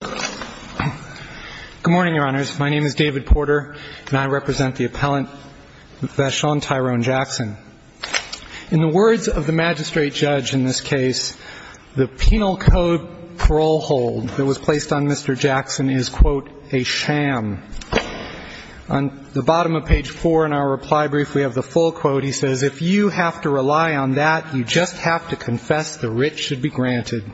Good morning, Your Honors. My name is David Porter, and I represent the appellant, Vashon Tyrone Jackson. In the words of the magistrate judge in this case, the penal code parole hold that was placed on Mr. Jackson is, quote, a sham. On the bottom of page 4 in our reply brief, we have the full quote. He says, if you have to rely on that, you just have to confess the writ should be granted.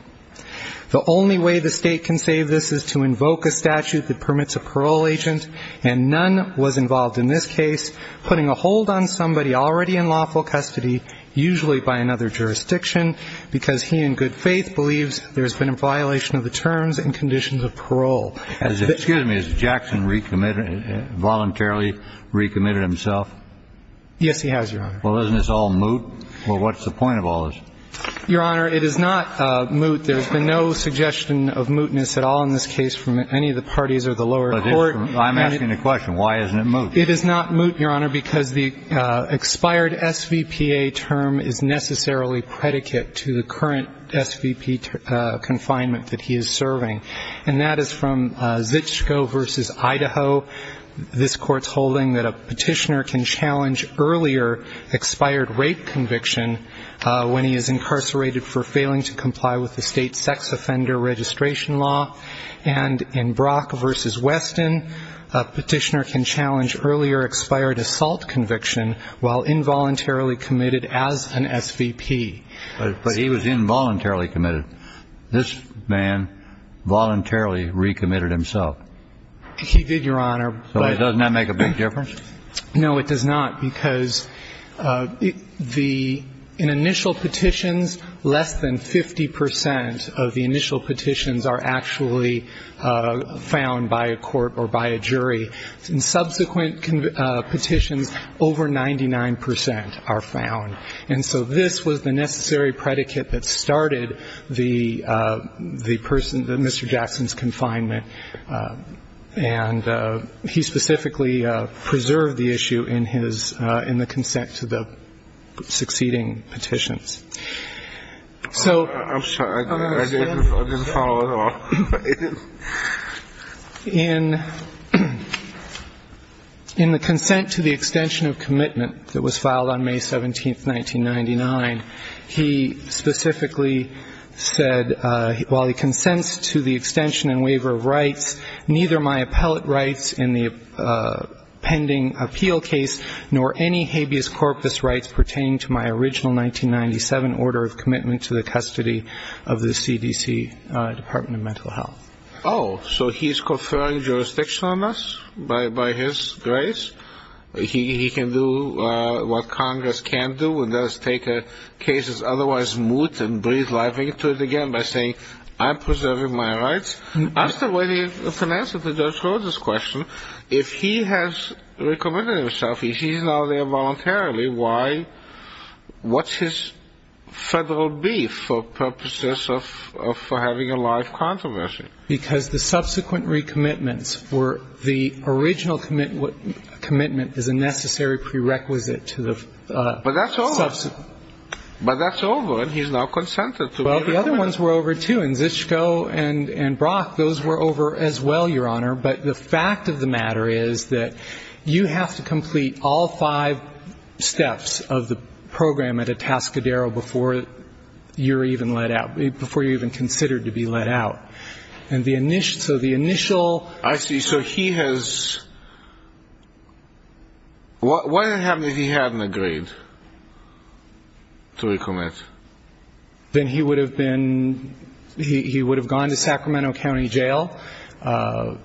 The only way the State can save this is to invoke a statute that permits a parole agent, and none was involved in this case, putting a hold on somebody already in lawful custody, usually by another jurisdiction, because he in good faith believes there's been a violation of the terms and conditions of parole. Excuse me. Has Jackson recommitted, voluntarily recommitted himself? Yes, he has, Your Honor. Well, isn't this all moot? Or what's the point of all this? Your Honor, it is not moot. There's been no suggestion of mootness at all in this case from any of the parties or the lower court. I'm asking the question, why isn't it moot? It is not moot, Your Honor, because the expired SVPA term is necessarily predicate to the current SVP confinement that he is serving. And that is from Zitschko v. Idaho. This court's holding that a petitioner can challenge earlier expired rape conviction when he is incarcerated for failing to comply with the State sex offender registration law. And in Brock v. Weston, a petitioner can challenge earlier expired assault conviction while involuntarily committed as an SVP. But he was involuntarily committed. This man voluntarily recommitted himself. He did, Your Honor. So doesn't that make a big difference? No, it does not, because in initial petitions, less than 50 percent of the initial petitions, over 99 percent are found. And so this was the necessary predicate that started the person, Mr. Jackson's confinement. And he specifically preserved the issue in his, in the consent to the succeeding petitions. I'm sorry. I didn't follow at all. In the consent to the extension of commitment that was filed on May 17, 1999, he specifically said, while he consents to the extension and waiver of rights, neither my appellate rights in the pending appeal case nor any habeas corpus rights pertaining to my original 1997 order of commitment to the custody of the CDC Department of Mental Health. Oh, so he's conferring jurisdiction on us by his grace? He can do what Congress can do and that is take a case's otherwise moot and breathe life into it again by saying, I'm preserving my rights? I'm still waiting for an answer to Judge Rhodes' question. If he has recommitted himself, if he's now there voluntarily, why, what's his federal beef for purposes of having a life controversy? Because the subsequent recommitments for the original commitment is a necessary prerequisite to the subsequent. But that's over. But that's over and he's now consented to it. Well, the other ones were over, too, and Zischko and Brock, those were over as well, Your Honor, but the fact of the matter is that you have to complete all five steps of the program at Atascadero before you're even let out, before you're even considered to be let out. And the initial, so the initial I see. So he has, what would have happened if he hadn't agreed to recommit? Then he would have been, he would have gone to Sacramento County Jail,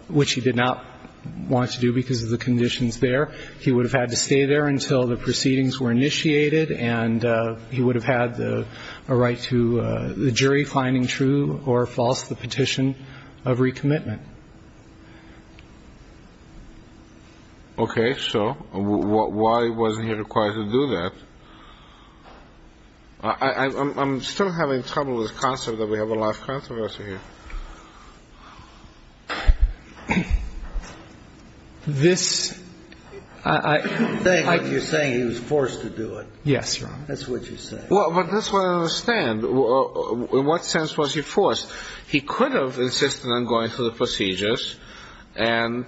which he did not want to do because of the conditions there. He would have had to stay there until the proceedings were initiated and he would have had a right to the jury finding true or false the petition of recommitment. Okay. So why was he required to do that? I'm still having trouble with the concept that we have a life controversy here. This, I You're saying he was forced to do it. Yes, Your Honor. That's what you're saying. Well, but that's what I understand. In what sense was he forced? He could have insisted on going through the procedures and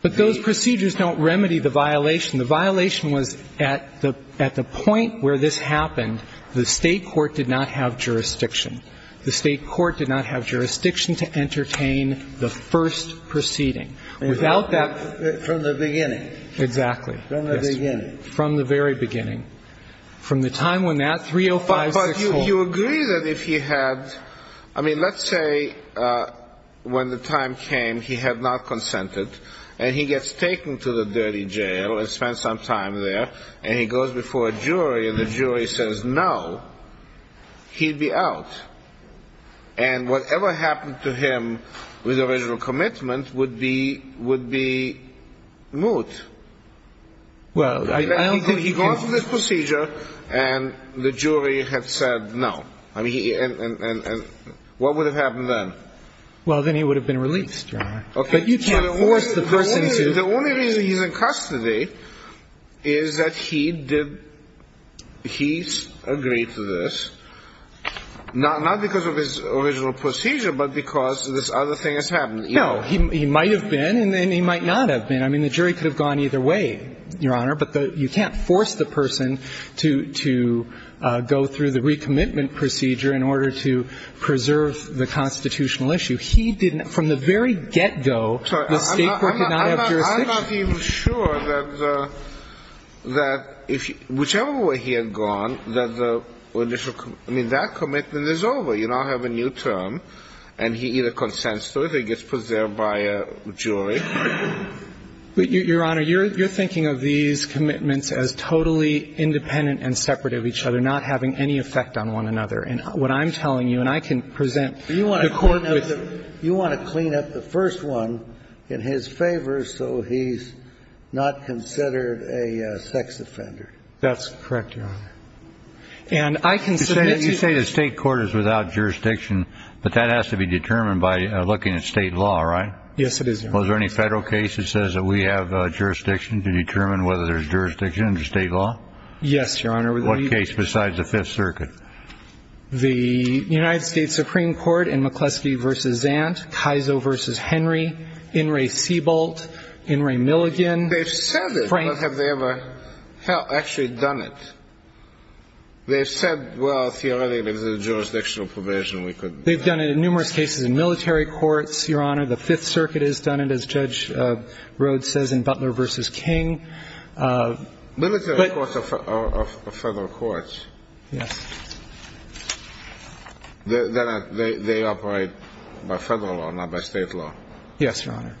But those procedures don't remedy the violation. The violation was at the point where this happened, the State court did not have jurisdiction. The State court did not have Without that From the beginning. Exactly. From the beginning. From the very beginning. From the time when that 30564 But you agree that if he had, I mean, let's say when the time came he had not consented and he gets taken to the dirty jail and spent some time there and he goes before a jury and the jury says no, he'd be out. And whatever happened to him with original commitment would be, would be moot. Well, I don't think he can He goes through this procedure and the jury had said no. I mean, and what would have happened then? Well, then he would have been released, Your Honor. Okay. But you can't force the person to The only reason he's in custody is that he did, he's agreed to this, not because of his original procedure, but because this other thing has happened. No. He might have been and he might not have been. I mean, the jury could have gone either way, Your Honor, but you can't force the person to go through the recommitment procedure in order to preserve the constitutional issue. He didn't, from the very get-go the State could not have jurisdiction. I'm not even sure that the, that whichever way he had gone, that the, I mean, that commitment is over. You now have a new term and he either consents to it or he gets preserved by a jury. Your Honor, you're thinking of these commitments as totally independent and separate of each other, not having any effect on one another. And what I'm telling you, and I can present the Court with You want to clean up the first one in his favor so he's not considered a sex offender. That's correct, Your Honor. And I can submit to you You say the State court is without jurisdiction, but that has to be determined by looking at State law, right? Yes, it is, Your Honor. Was there any Federal case that says that we have jurisdiction to determine whether there's jurisdiction under State law? Yes, Your Honor. What case besides the Fifth Circuit? The United States Supreme Court in McCleskey v. Zant, Kiso v. Henry, In re Seabolt, In re Milligan. They've said it, but have they ever actually done it? They've said, well, theoretically there's a jurisdictional provision we could They've done it in numerous cases in military courts, Your Honor. The Fifth Circuit has done it, as Judge Rhodes says, in Butler v. King. Military courts or Federal courts? Yes. They operate by Federal law, not by State law? Yes, Your Honor.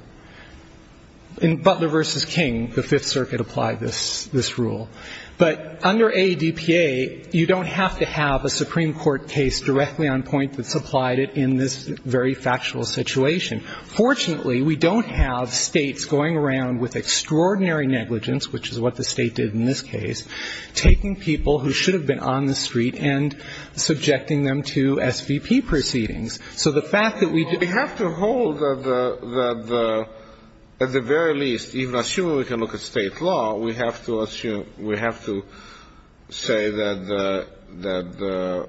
In Butler v. King, the Fifth Circuit applied this rule. But under ADPA, you don't have to have a Supreme Court case directly on point that supplied it in this very factual situation. Fortunately, we don't have States going around with extraordinary negligence, which is what the State did in this case, taking people who should have been on the street and subjecting them to SVP proceedings. So the fact that we We have to hold that the, at the very least, even assuming we can look at State law, we have to assume, we have to say that the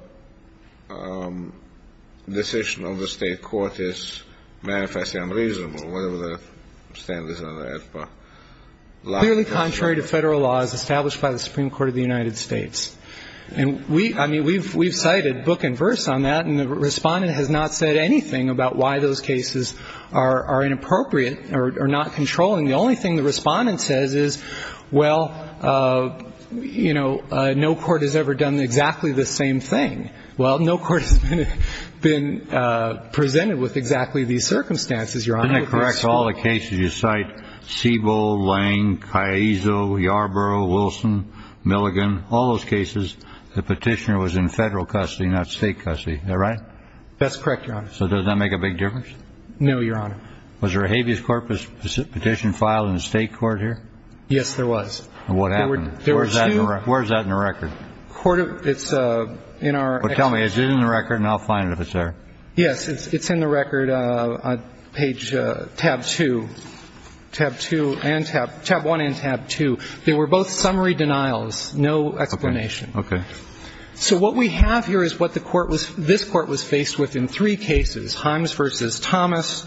decision of the State court is manifestly unreasonable, whatever the standards under ADPA. Clearly contrary to Federal laws established by the Supreme Court of the United States. And we, I mean, we've cited book and verse on that, and the Respondent has not said anything about why those cases are inappropriate or not controlling. The only thing the Respondent says is, well, you know, no court has ever done exactly the same thing. Well, no court has been presented with exactly these circumstances, Your Honor. Isn't it correct, all the cases you cite, Siebel, Lange, Caiso, Yarborough, Wilson, Milligan, all those cases, the Petitioner was in Federal custody, not State custody. Is that right? That's correct, Your Honor. So does that make a big difference? No, Your Honor. Was there a habeas corpus petition filed in the State court here? Yes, there was. And what happened? There were two Where's that in the record? Court of, it's in our Well, tell me, is it in the record, and I'll find it if it's there. Yes, it's in the record, page tab 2, tab 1 and tab 2. They were both summary denials, no explanation. Okay. So what we have here is what the court was, this court was faced with in three cases, Himes v. Thomas,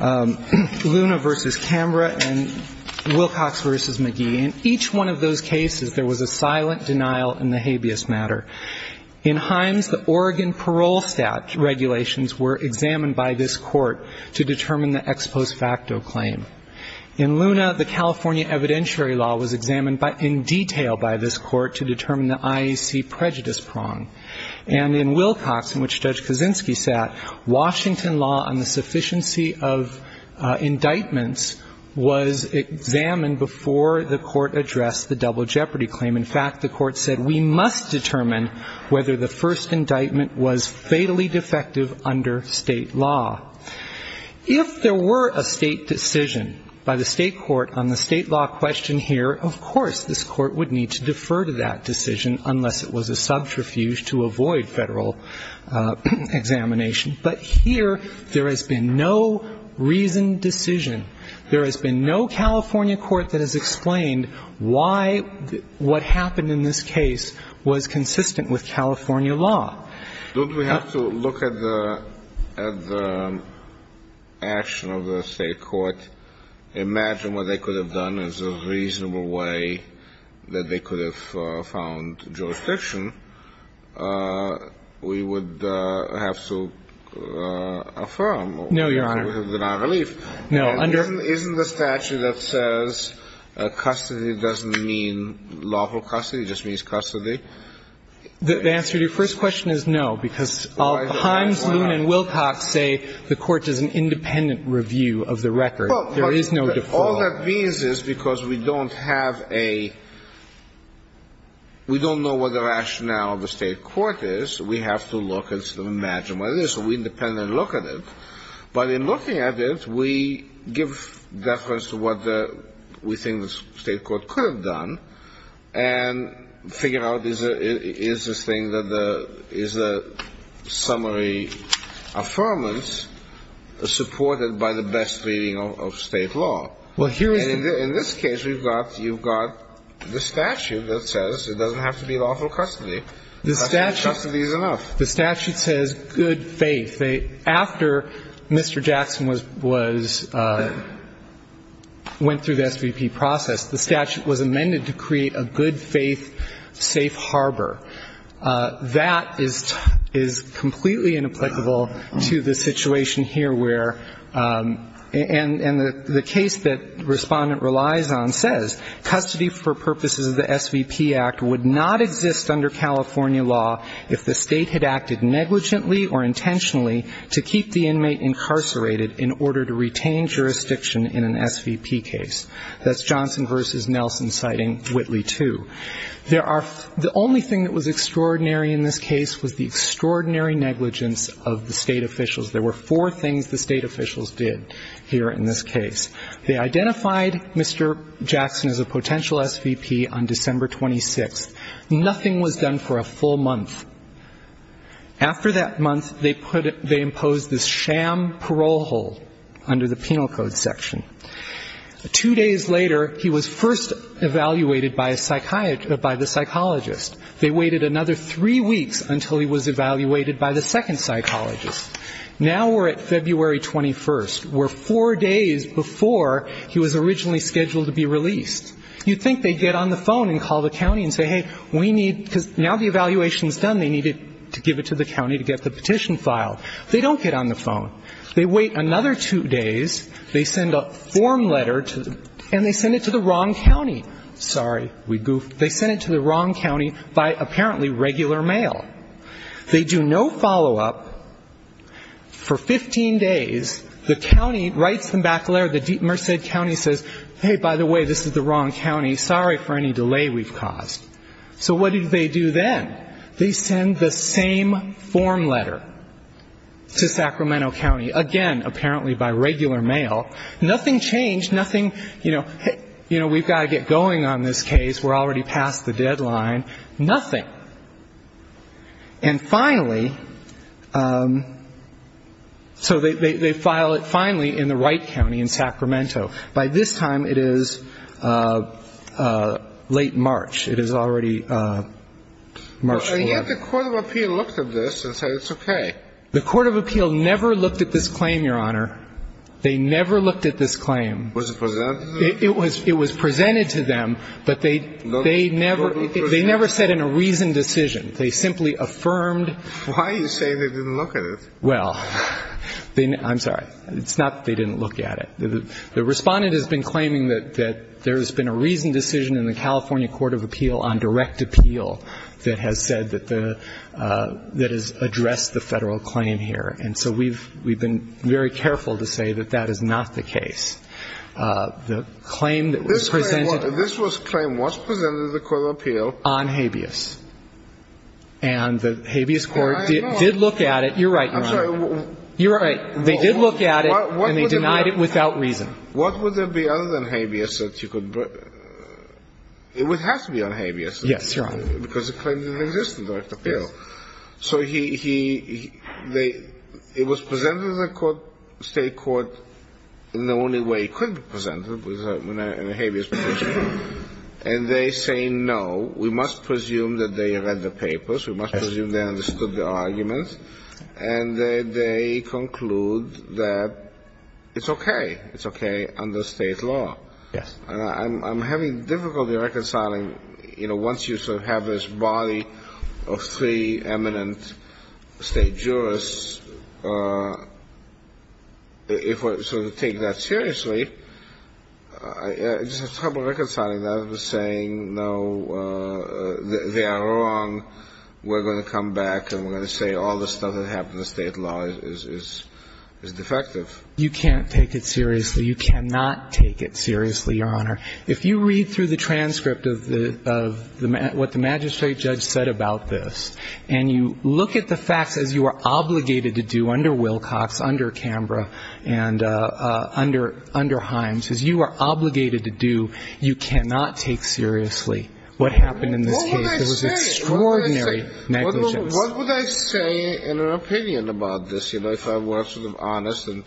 Luna v. Cambra, and Wilcox v. McGee. In each one of those cases, there was a silent denial in the habeas matter. In Himes, the Oregon parole stat regulations were examined by this court to determine the ex post facto claim. In Luna, the California evidentiary law was examined in detail by this court to determine the IEC prejudice prong. And in Wilcox, in which Judge Kaczynski sat, Washington law on the sufficiency of indictments was examined before the court addressed the double jeopardy claim. In fact, the court said we must determine whether the first indictment was fatally defective under state law. If there were a state decision by the state court on the state law question here, of course this court would need to defer to that decision unless it was a subterfuge to avoid federal examination. But here there has been no reasoned decision. There has been no California court that has explained why what happened in this case was consistent with California law. Don't we have to look at the action of the state court, imagine what they could have done as a reasonable way that they could have found jurisdiction. No, Your Honor. Isn't the statute that says custody doesn't mean lawful custody, it just means custody? The answer to your first question is no, because Himes, Luna, and Wilcox say the court does an independent review of the record. There is no default. All that means is because we don't have a, we don't know what the rationale of the state court is, we have to look and sort of imagine what it is. So we independently look at it. But in looking at it, we give deference to what we think the state court could have done and figure out is this thing that the, is the summary affirmance supported by the best reading of state law. And in this case, you've got the statute that says it doesn't have to be lawful custody. Custody is enough. The statute says good faith. After Mr. Jackson was, went through the SVP process, the statute was amended to create a good faith safe harbor. That is completely inapplicable to the situation here where, and the case that the Respondent relies on says custody for purposes of the SVP Act would not exist under California law if the state had acted negligently or intentionally to keep the inmate incarcerated in order to retain jurisdiction in an SVP case. That's Johnson v. Nelson citing Whitley II. There are, the only thing that was extraordinary in this case was the extraordinary negligence of the state officials. There were four things the state officials did here in this case. They identified Mr. Jackson as a potential SVP on December 26th. Nothing was done for a full month. After that month, they imposed this sham parole hold under the penal code section. Two days later, he was first evaluated by a psychiatrist, by the psychologist. They waited another three weeks until he was evaluated by the second psychologist. Now we're at February 21st. We're four days before he was originally scheduled to be released. You'd think they'd get on the phone and call the county and say, hey, we need, because now the evaluation is done, they need to give it to the county to get the petition filed. They don't get on the phone. They wait another two days. They send a form letter to, and they send it to the wrong county. Sorry, we goofed. They sent it to the wrong county by apparently regular mail. They do no follow-up. For 15 days, the county writes them back a letter. The Merced County says, hey, by the way, this is the wrong county. Sorry for any delay we've caused. So what do they do then? They send the same form letter to Sacramento County, again, apparently by regular mail. Nothing changed. Nothing, you know, we've got to get going on this case. We're already past the deadline. Nothing. And finally, so they file it finally in the right county in Sacramento. By this time, it is late March. It is already March 4th. And yet the court of appeal looked at this and said it's okay. The court of appeal never looked at this claim, Your Honor. They never looked at this claim. Was it presented to them? It was presented to them, but they never said in a reasonable way, a reasoned decision. They simply affirmed. Why are you saying they didn't look at it? Well, I'm sorry. It's not that they didn't look at it. The Respondent has been claiming that there has been a reasoned decision in the California Court of Appeal on direct appeal that has said that the, that has addressed the federal claim here. And so we've been very careful to say that that is not the case. The claim that was presented. This claim was presented to the court of appeal. On habeas. And the habeas court did look at it. You're right, Your Honor. I'm sorry. You're right. They did look at it and they denied it without reason. What would there be other than habeas that you could, it would have to be on habeas. Yes, Your Honor. Because the claim didn't exist in direct appeal. So he, they, it was presented to the state court in the only way it could be presented was in a habeas position. And they say no. We must presume that they read the papers. We must presume they understood the arguments. And they conclude that it's okay. It's okay under state law. Yes. I'm having difficulty reconciling, you know, once you sort of have this body of three I just have trouble reconciling that with saying no, they are wrong. We're going to come back and we're going to say all the stuff that happened in the state law is defective. You can't take it seriously. You cannot take it seriously, Your Honor. If you read through the transcript of the, of what the magistrate judge said about this, and you look at the facts as you are obligated to do under Wilcox, under Canberra, and under Himes, as you are obligated to do, you cannot take seriously what happened in this case. What would I say? It was extraordinary negligence. What would I say in an opinion about this, you know, if I were sort of honest in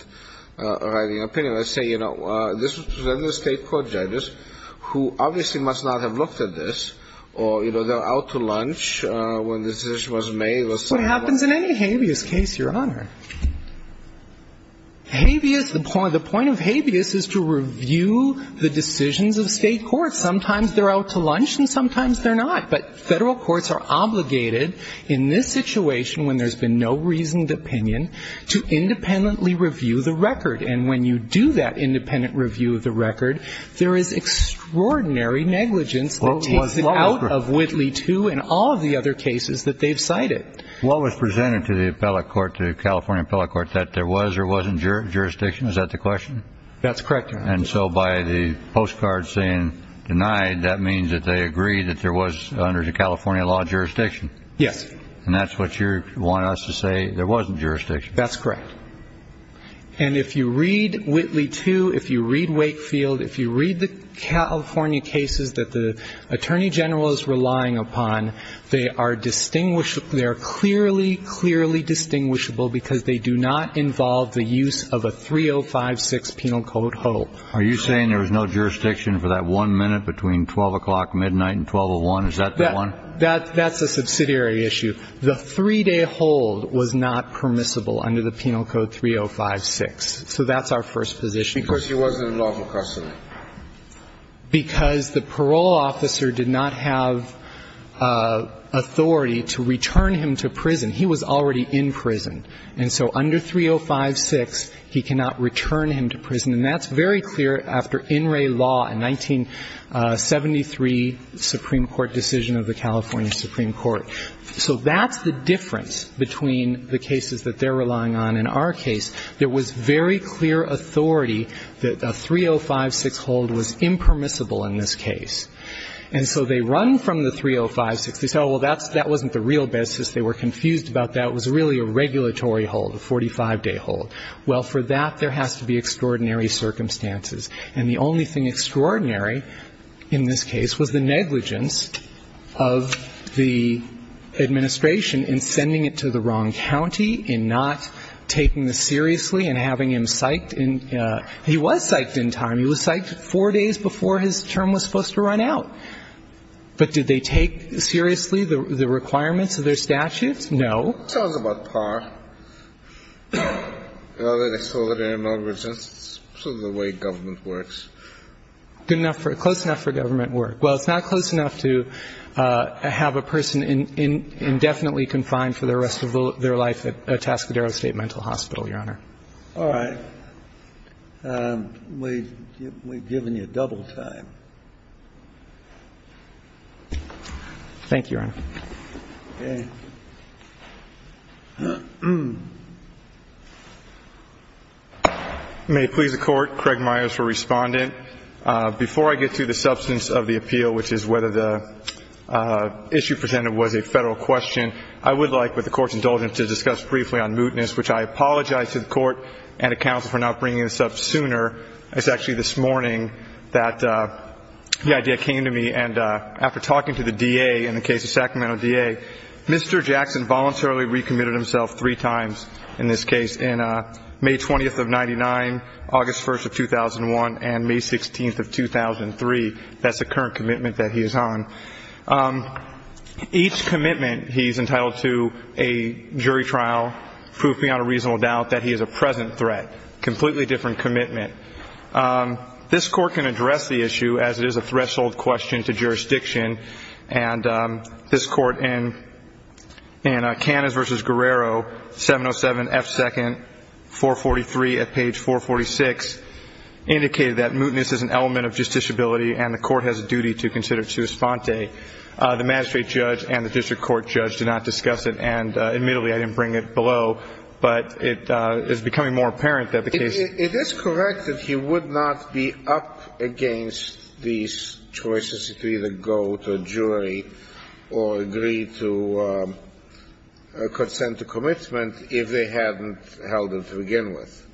writing an opinion? I'd say, you know, this was presented to state court judges who obviously must not have looked at this, or, you know, they're out to lunch when the decision was made. That's what happens in any habeas case, Your Honor. Habeas, the point of habeas is to review the decisions of state courts. Sometimes they're out to lunch and sometimes they're not. But Federal courts are obligated in this situation when there's been no reasoned opinion to independently review the record. And when you do that independent review of the record, there is extraordinary negligence that takes it out of Whitley II and all of the other cases that they've What was presented to the appellate court, the California appellate court, that there was or wasn't jurisdiction? Is that the question? That's correct, Your Honor. And so by the postcard saying denied, that means that they agreed that there was, under the California law, jurisdiction. Yes. And that's what you want us to say, there wasn't jurisdiction. That's correct. And if you read Whitley II, if you read Wakefield, if you read the California cases that the attorney general is relying upon, they are clearly, clearly distinguishable because they do not involve the use of a 3056 penal code hold. Are you saying there was no jurisdiction for that one minute between 12 o'clock midnight and 1201? Is that the one? That's a subsidiary issue. The three-day hold was not permissible under the penal code 3056. So that's our first position. Because he wasn't in lawful custody. Because the parole officer did not have authority to return him to prison. He was already in prison. And so under 3056, he cannot return him to prison. And that's very clear after In Re Law, a 1973 Supreme Court decision of the California Supreme Court. So that's the difference between the cases that they're relying on and our case. There was very clear authority that a 3056 hold was impermissible in this case. And so they run from the 3056. They say, oh, well, that wasn't the real basis. They were confused about that. It was really a regulatory hold, a 45-day hold. Well, for that, there has to be extraordinary circumstances. And the only thing extraordinary in this case was the negligence of the administration in sending it to the wrong county, in not taking this seriously and having him psyched in – he was psyched in time. He was psyched four days before his term was supposed to run out. But did they take seriously the requirements of their statute? No. Kennedy. It's always about par. In other words, it's sort of the way government works. Good enough for – close enough for government work. Well, it's not close enough to have a person indefinitely confined for the rest of their life at Tascadero State Mental Hospital, Your Honor. All right. We've given you double time. Thank you, Your Honor. Okay. May it please the Court. Craig Myers for Respondent. Before I get to the substance of the appeal, which is whether the issue presented was a federal question, I would like, with the Court's indulgence, to discuss briefly on mootness, which I apologize to the Court and to counsel for not bringing this up sooner. It's actually this morning that the idea came to me. And after talking to the DA in the case of Sacramento DA, Mr. Jackson voluntarily recommitted himself three times in this case, in May 20th of 1999, August 1st of 2001, and May 16th of 2003. That's the current commitment that he is on. Each commitment he's entitled to a jury trial, proof beyond a reasonable doubt that he is a present threat, completely different commitment. This Court can address the issue as it is a threshold question to jurisdiction, and this Court in Canas v. Guerrero, 707 F. 2nd, 443 at page 446, indicated that mootness is an element of justiciability and the Court has a duty to consider it to respond to it. The magistrate judge and the district court judge did not discuss it, and admittedly I didn't bring it below, but it is becoming more apparent that the case ---- It is correct that he would not be up against these choices to either go to a jury or agree to consent to commitment if they hadn't held him to begin with.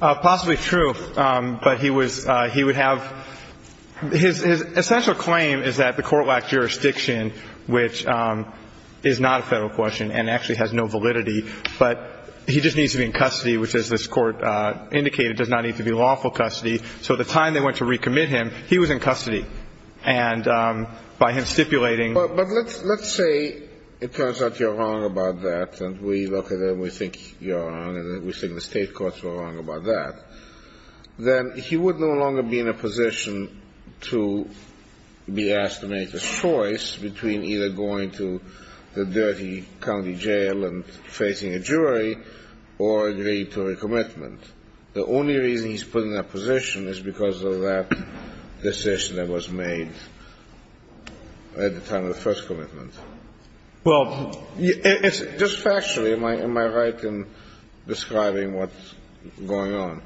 Possibly true, but he was ---- he would have ---- his essential claim is that the Court lacked jurisdiction, which is not a Federal question and actually has no validity, but he just needs to be in custody, which, as this Court indicated, does not need to be lawful custody. So the time they went to recommit him, he was in custody. And by him stipulating ---- But let's say it turns out you're wrong about that, and we look at it and we think you're wrong and we think the State courts were wrong about that, then he would no longer be in a position to be asked to make the choice between either going to the dirty county jail and facing a jury or agreeing to a commitment. The only reason he's put in that position is because of that decision that was made at the time of the first commitment. Well, it's ---- Just factually, am I right in describing what's going on?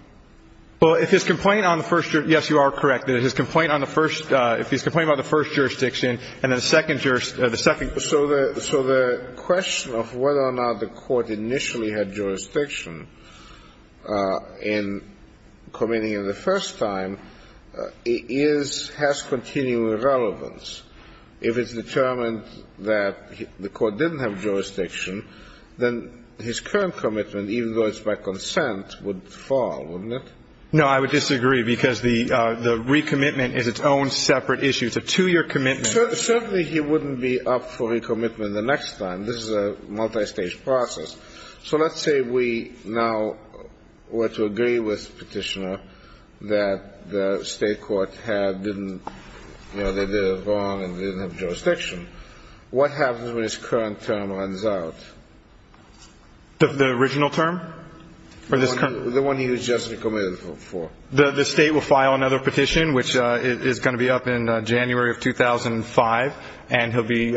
Well, if his complaint on the first ---- yes, you are correct. If his complaint on the first ---- if his complaint on the first jurisdiction and the second ---- So the question of whether or not the Court initially had jurisdiction in committing him the first time is ---- has continuing relevance. If it's determined that the Court didn't have jurisdiction, then his current commitment, even though it's by consent, would fall, wouldn't it? No, I would disagree, because the recommitment is its own separate issue. It's a two-year commitment. Certainly he wouldn't be up for recommitment the next time. This is a multistage process. So let's say we now were to agree with Petitioner that the State court had didn't ---- you know, they did it wrong and didn't have jurisdiction. What happens when his current term runs out? The original term? The one he was just recommitted for. The State will file another petition, which is going to be up in January of 2005, and he'll be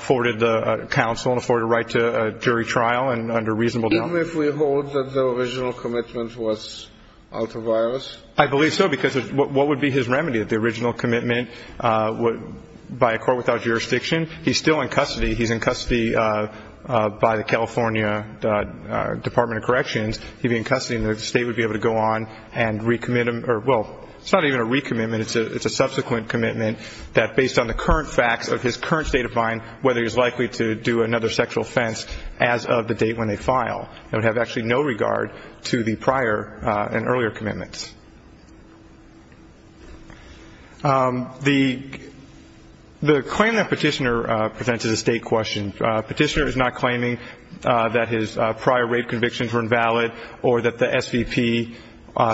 forwarded to counsel and afforded a right to jury trial and under reasonable doubt. Even if we hold that the original commitment was out of virus? I believe so, because what would be his remedy? The original commitment by a court without jurisdiction? He's still in custody. He's in custody by the California Department of Corrections. He'd be in custody and the State would be able to go on and recommit him. Well, it's not even a recommitment. It's a subsequent commitment that based on the current facts of his current state of mind, whether he's likely to do another sexual offense as of the date when they file. It would have actually no regard to the prior and earlier commitments. The claim that Petitioner presents is a State question. Petitioner is not claiming that his prior rape convictions were invalid or that the SVP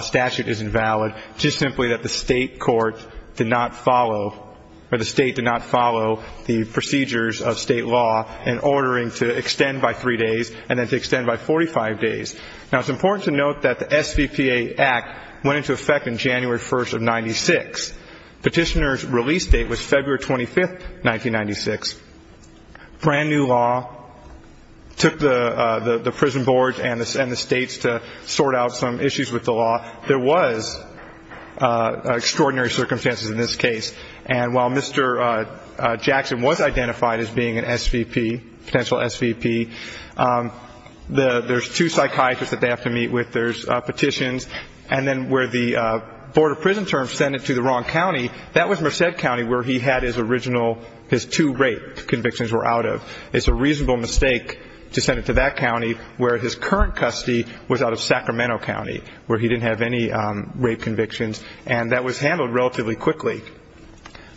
statute is invalid, just simply that the State court did not follow or the State did not follow the procedures of State law in ordering to extend by three days and then to extend by 45 days. Now, it's important to note that the SVPA Act went into effect on January 1st of 1996. Petitioner's release date was February 25th, 1996. Brand new law. Took the prison board and the States to sort out some issues with the law. There was extraordinary circumstances in this case. And while Mr. Jackson was identified as being an SVP, potential SVP, there's two psychiatrists that they have to meet with. There's petitions. And then where the Board of Prison Terms sent it to the wrong county, that was Merced County where he had his original, his two rape convictions were out of. It's a reasonable mistake to send it to that county where his current custody was out of Sacramento County, where he didn't have any rape convictions. And that was handled relatively quickly.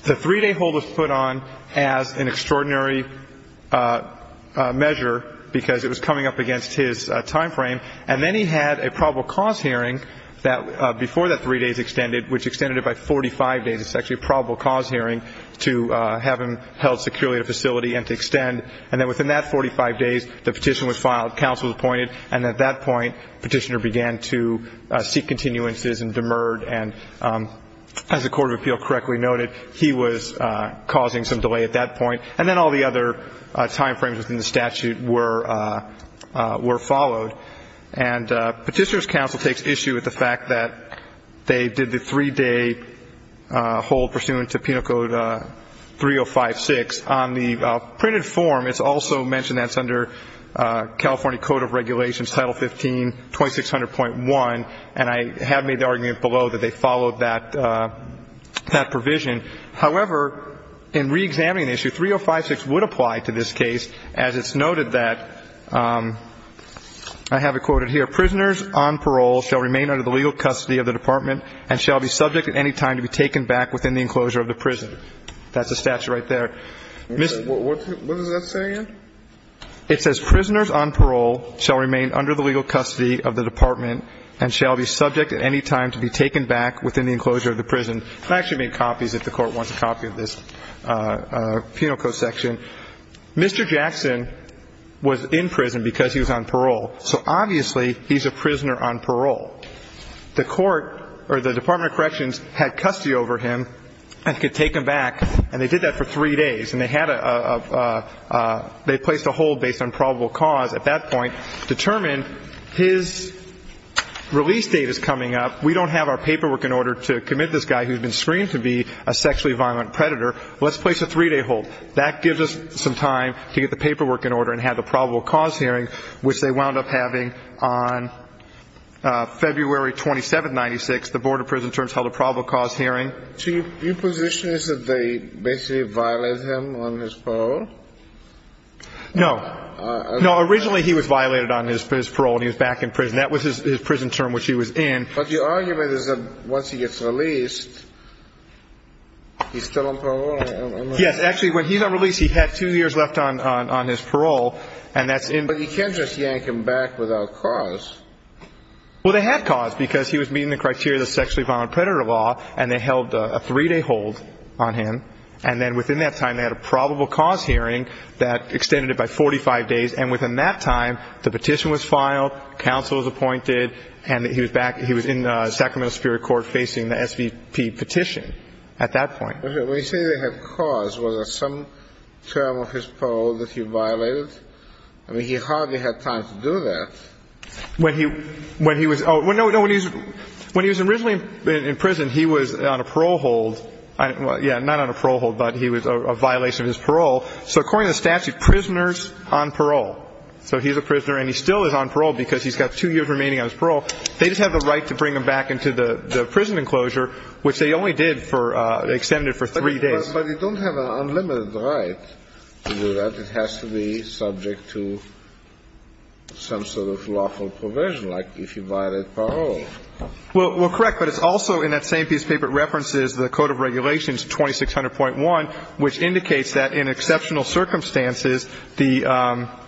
The three-day hold was put on as an extraordinary measure because it was coming up against his time frame. And then he had a probable cause hearing before that three days extended, which extended it by 45 days. It's actually a probable cause hearing to have him held securely at a facility and to extend. And then within that 45 days, the petition was filed, counsel was appointed. And at that point, Petitioner began to seek continuances and demurred. And as the Court of Appeal correctly noted, he was causing some delay at that point. And then all the other time frames within the statute were followed. And Petitioner's counsel takes issue with the fact that they did the three-day hold pursuant to Penal Code 3056. On the printed form, it's also mentioned that it's under California Code of Regulations, Title 15, 2600.1. And I have made the argument below that they followed that provision. However, in reexamining the issue, 3056 would apply to this case as it's noted that I have it quoted here. Prisoners on parole shall remain under the legal custody of the department and shall be subject at any time to be taken back within the enclosure of the prison. That's the statute right there. What does that say again? It says, Prisoners on parole shall remain under the legal custody of the department and shall be subject at any time to be taken back within the enclosure of the prison. I can actually make copies if the Court wants a copy of this Penal Code section. Mr. Jackson was in prison because he was on parole. So obviously, he's a prisoner on parole. The Court or the Department of Corrections had custody over him and could take him back. And they did that for three days. And they had a – they placed a hold based on probable cause at that point, determined his release date is coming up. We don't have our paperwork in order to commit this guy who's been screened to be a sexually violent predator. Let's place a three-day hold. That gives us some time to get the paperwork in order and have the probable cause hearing, which they wound up having on February 27, 1996. The Board of Prison Terms held a probable cause hearing. So your position is that they basically violated him on his parole? No. No, originally, he was violated on his parole and he was back in prison. That was his prison term which he was in. But the argument is that once he gets released, he's still on parole? Yes. Actually, when he's on release, he had two years left on his parole. And that's in – But you can't just yank him back without cause. Well, they had cause because he was meeting the criteria of the sexually violent predator law. And they held a three-day hold on him. And then within that time, they had a probable cause hearing that extended it by 45 days. And within that time, the petition was filed. Counsel was appointed. And he was back – he was in Sacramento Superior Court facing the SVP petition at that point. When you say they had cause, was there some term of his parole that he violated? I mean, he hardly had time to do that. When he was – oh, no, no. When he was originally in prison, he was on a parole hold. Yeah, not on a parole hold, but he was a violation of his parole. So according to the statute, prisoners on parole. So he's a prisoner and he still is on parole because he's got two years remaining on his parole. They just have the right to bring him back into the prison enclosure, which they only did for – extended it for three days. But you don't have an unlimited right to do that. It has to be subject to some sort of lawful provision, like if he violated parole. Well, correct. But it's also in that same piece of paper that references the Code of Regulations 2600.1, which indicates that in exceptional circumstances, the –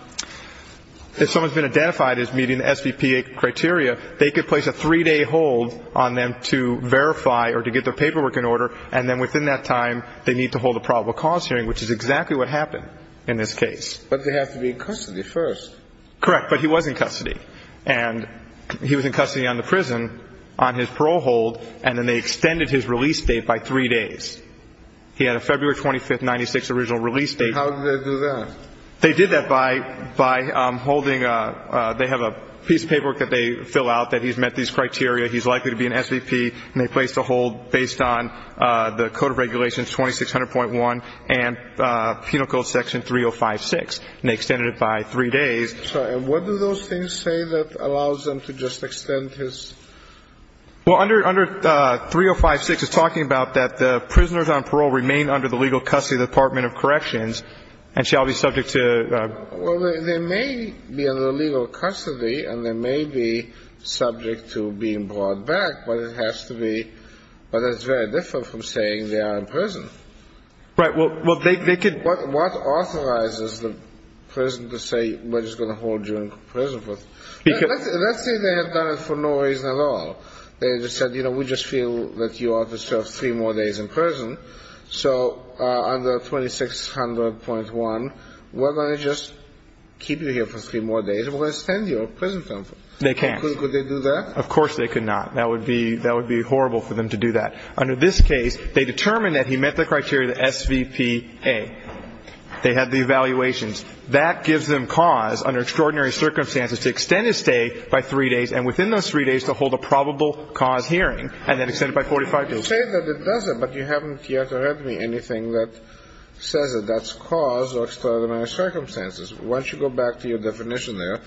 if someone's been identified as meeting the SVP criteria, they could place a three-day hold on them to verify or to get their paperwork in order, and then within that time they need to hold a probable cause hearing, which is exactly what happened in this case. But they have to be in custody first. Correct. But he was in custody. And he was in custody on the prison, on his parole hold, and then they extended his release date by three days. He had a February 25, 1996, original release date. And how did they do that? They did that by holding a – they have a piece of paperwork that they fill out that he's met these criteria, he's likely to be an SVP, and they placed a hold based on the Code of Regulations 2600.1 and Penal Code Section 3056, and they extended it by three days. And what do those things say that allows them to just extend his – Well, under 3056, it's talking about that the prisoners on parole remain under the legal custody of the Department of Corrections and shall be subject to – Well, they may be under legal custody and they may be subject to being brought back, but it has to be – but that's very different from saying they are in prison. Right. Well, they could – What authorizes the prison to say we're just going to hold you in prison for – Because – Let's say they have done it for no reason at all. They just said, you know, we just feel that you ought to serve three more days in prison. So under 2600.1, we're going to just keep you here for three more days and we're going to extend your prison term. They can't. Could they do that? Of course they could not. That would be – that would be horrible for them to do that. Under this case, they determined that he met the criteria, the SVPA. They had the evaluations. That gives them cause under extraordinary circumstances to extend his stay by three days and within those three days to hold a probable cause hearing and then extend it by 45 days. You say that it doesn't, but you haven't yet read me anything that says that that's cause or extraordinary circumstances. Why don't you go back to your definition there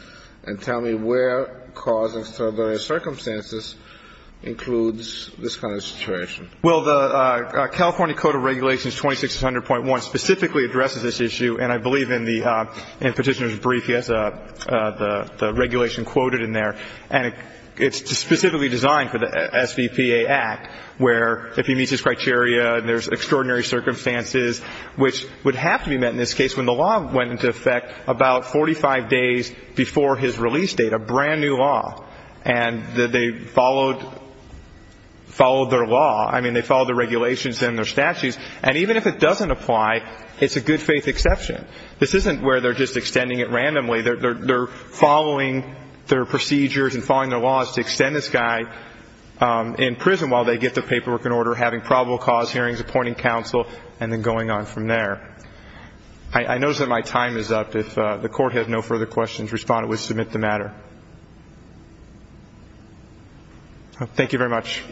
and tell me where cause or extraordinary circumstances includes this kind of situation. Well, the California Code of Regulations 2600.1 specifically addresses this issue, and I believe in the – in Petitioner's brief, yes, the regulation quoted in there, and it's specifically designed for the SVPA Act where if he meets his criteria and there's extraordinary circumstances, which would have to be met in this case when the law went into effect about 45 days before his release date, a brand-new law, and they followed – followed their law. I mean, they followed the regulations and their statutes. And even if it doesn't apply, it's a good-faith exception. This isn't where they're just extending it randomly. They're following their procedures and following their laws to extend this guy in prison while they get their paperwork in order, having probable cause hearings, appointing counsel, and then going on from there. I notice that my time is up. If the Court had no further questions, respondent would submit the matter. Thank you very much.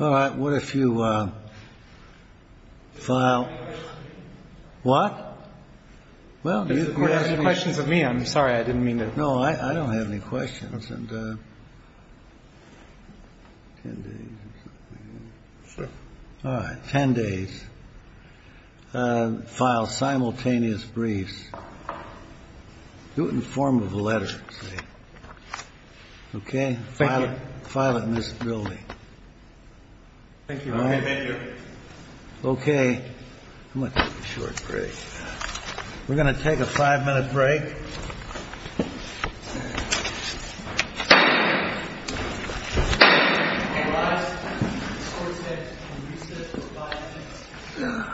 All right. What if you file – what? Well, do you – If the Court has any questions of me, I'm sorry. I didn't mean to – No, I don't have any questions. All right. Ten days. File simultaneous briefs. Do it in the form of a letter, say. Okay? Thank you. File it in this building. Thank you. All right? Thank you. Okay. I'm going to take a short break. We're going to take a five-minute break. Okay. All rise. This Court today will recess for five minutes. Thank you.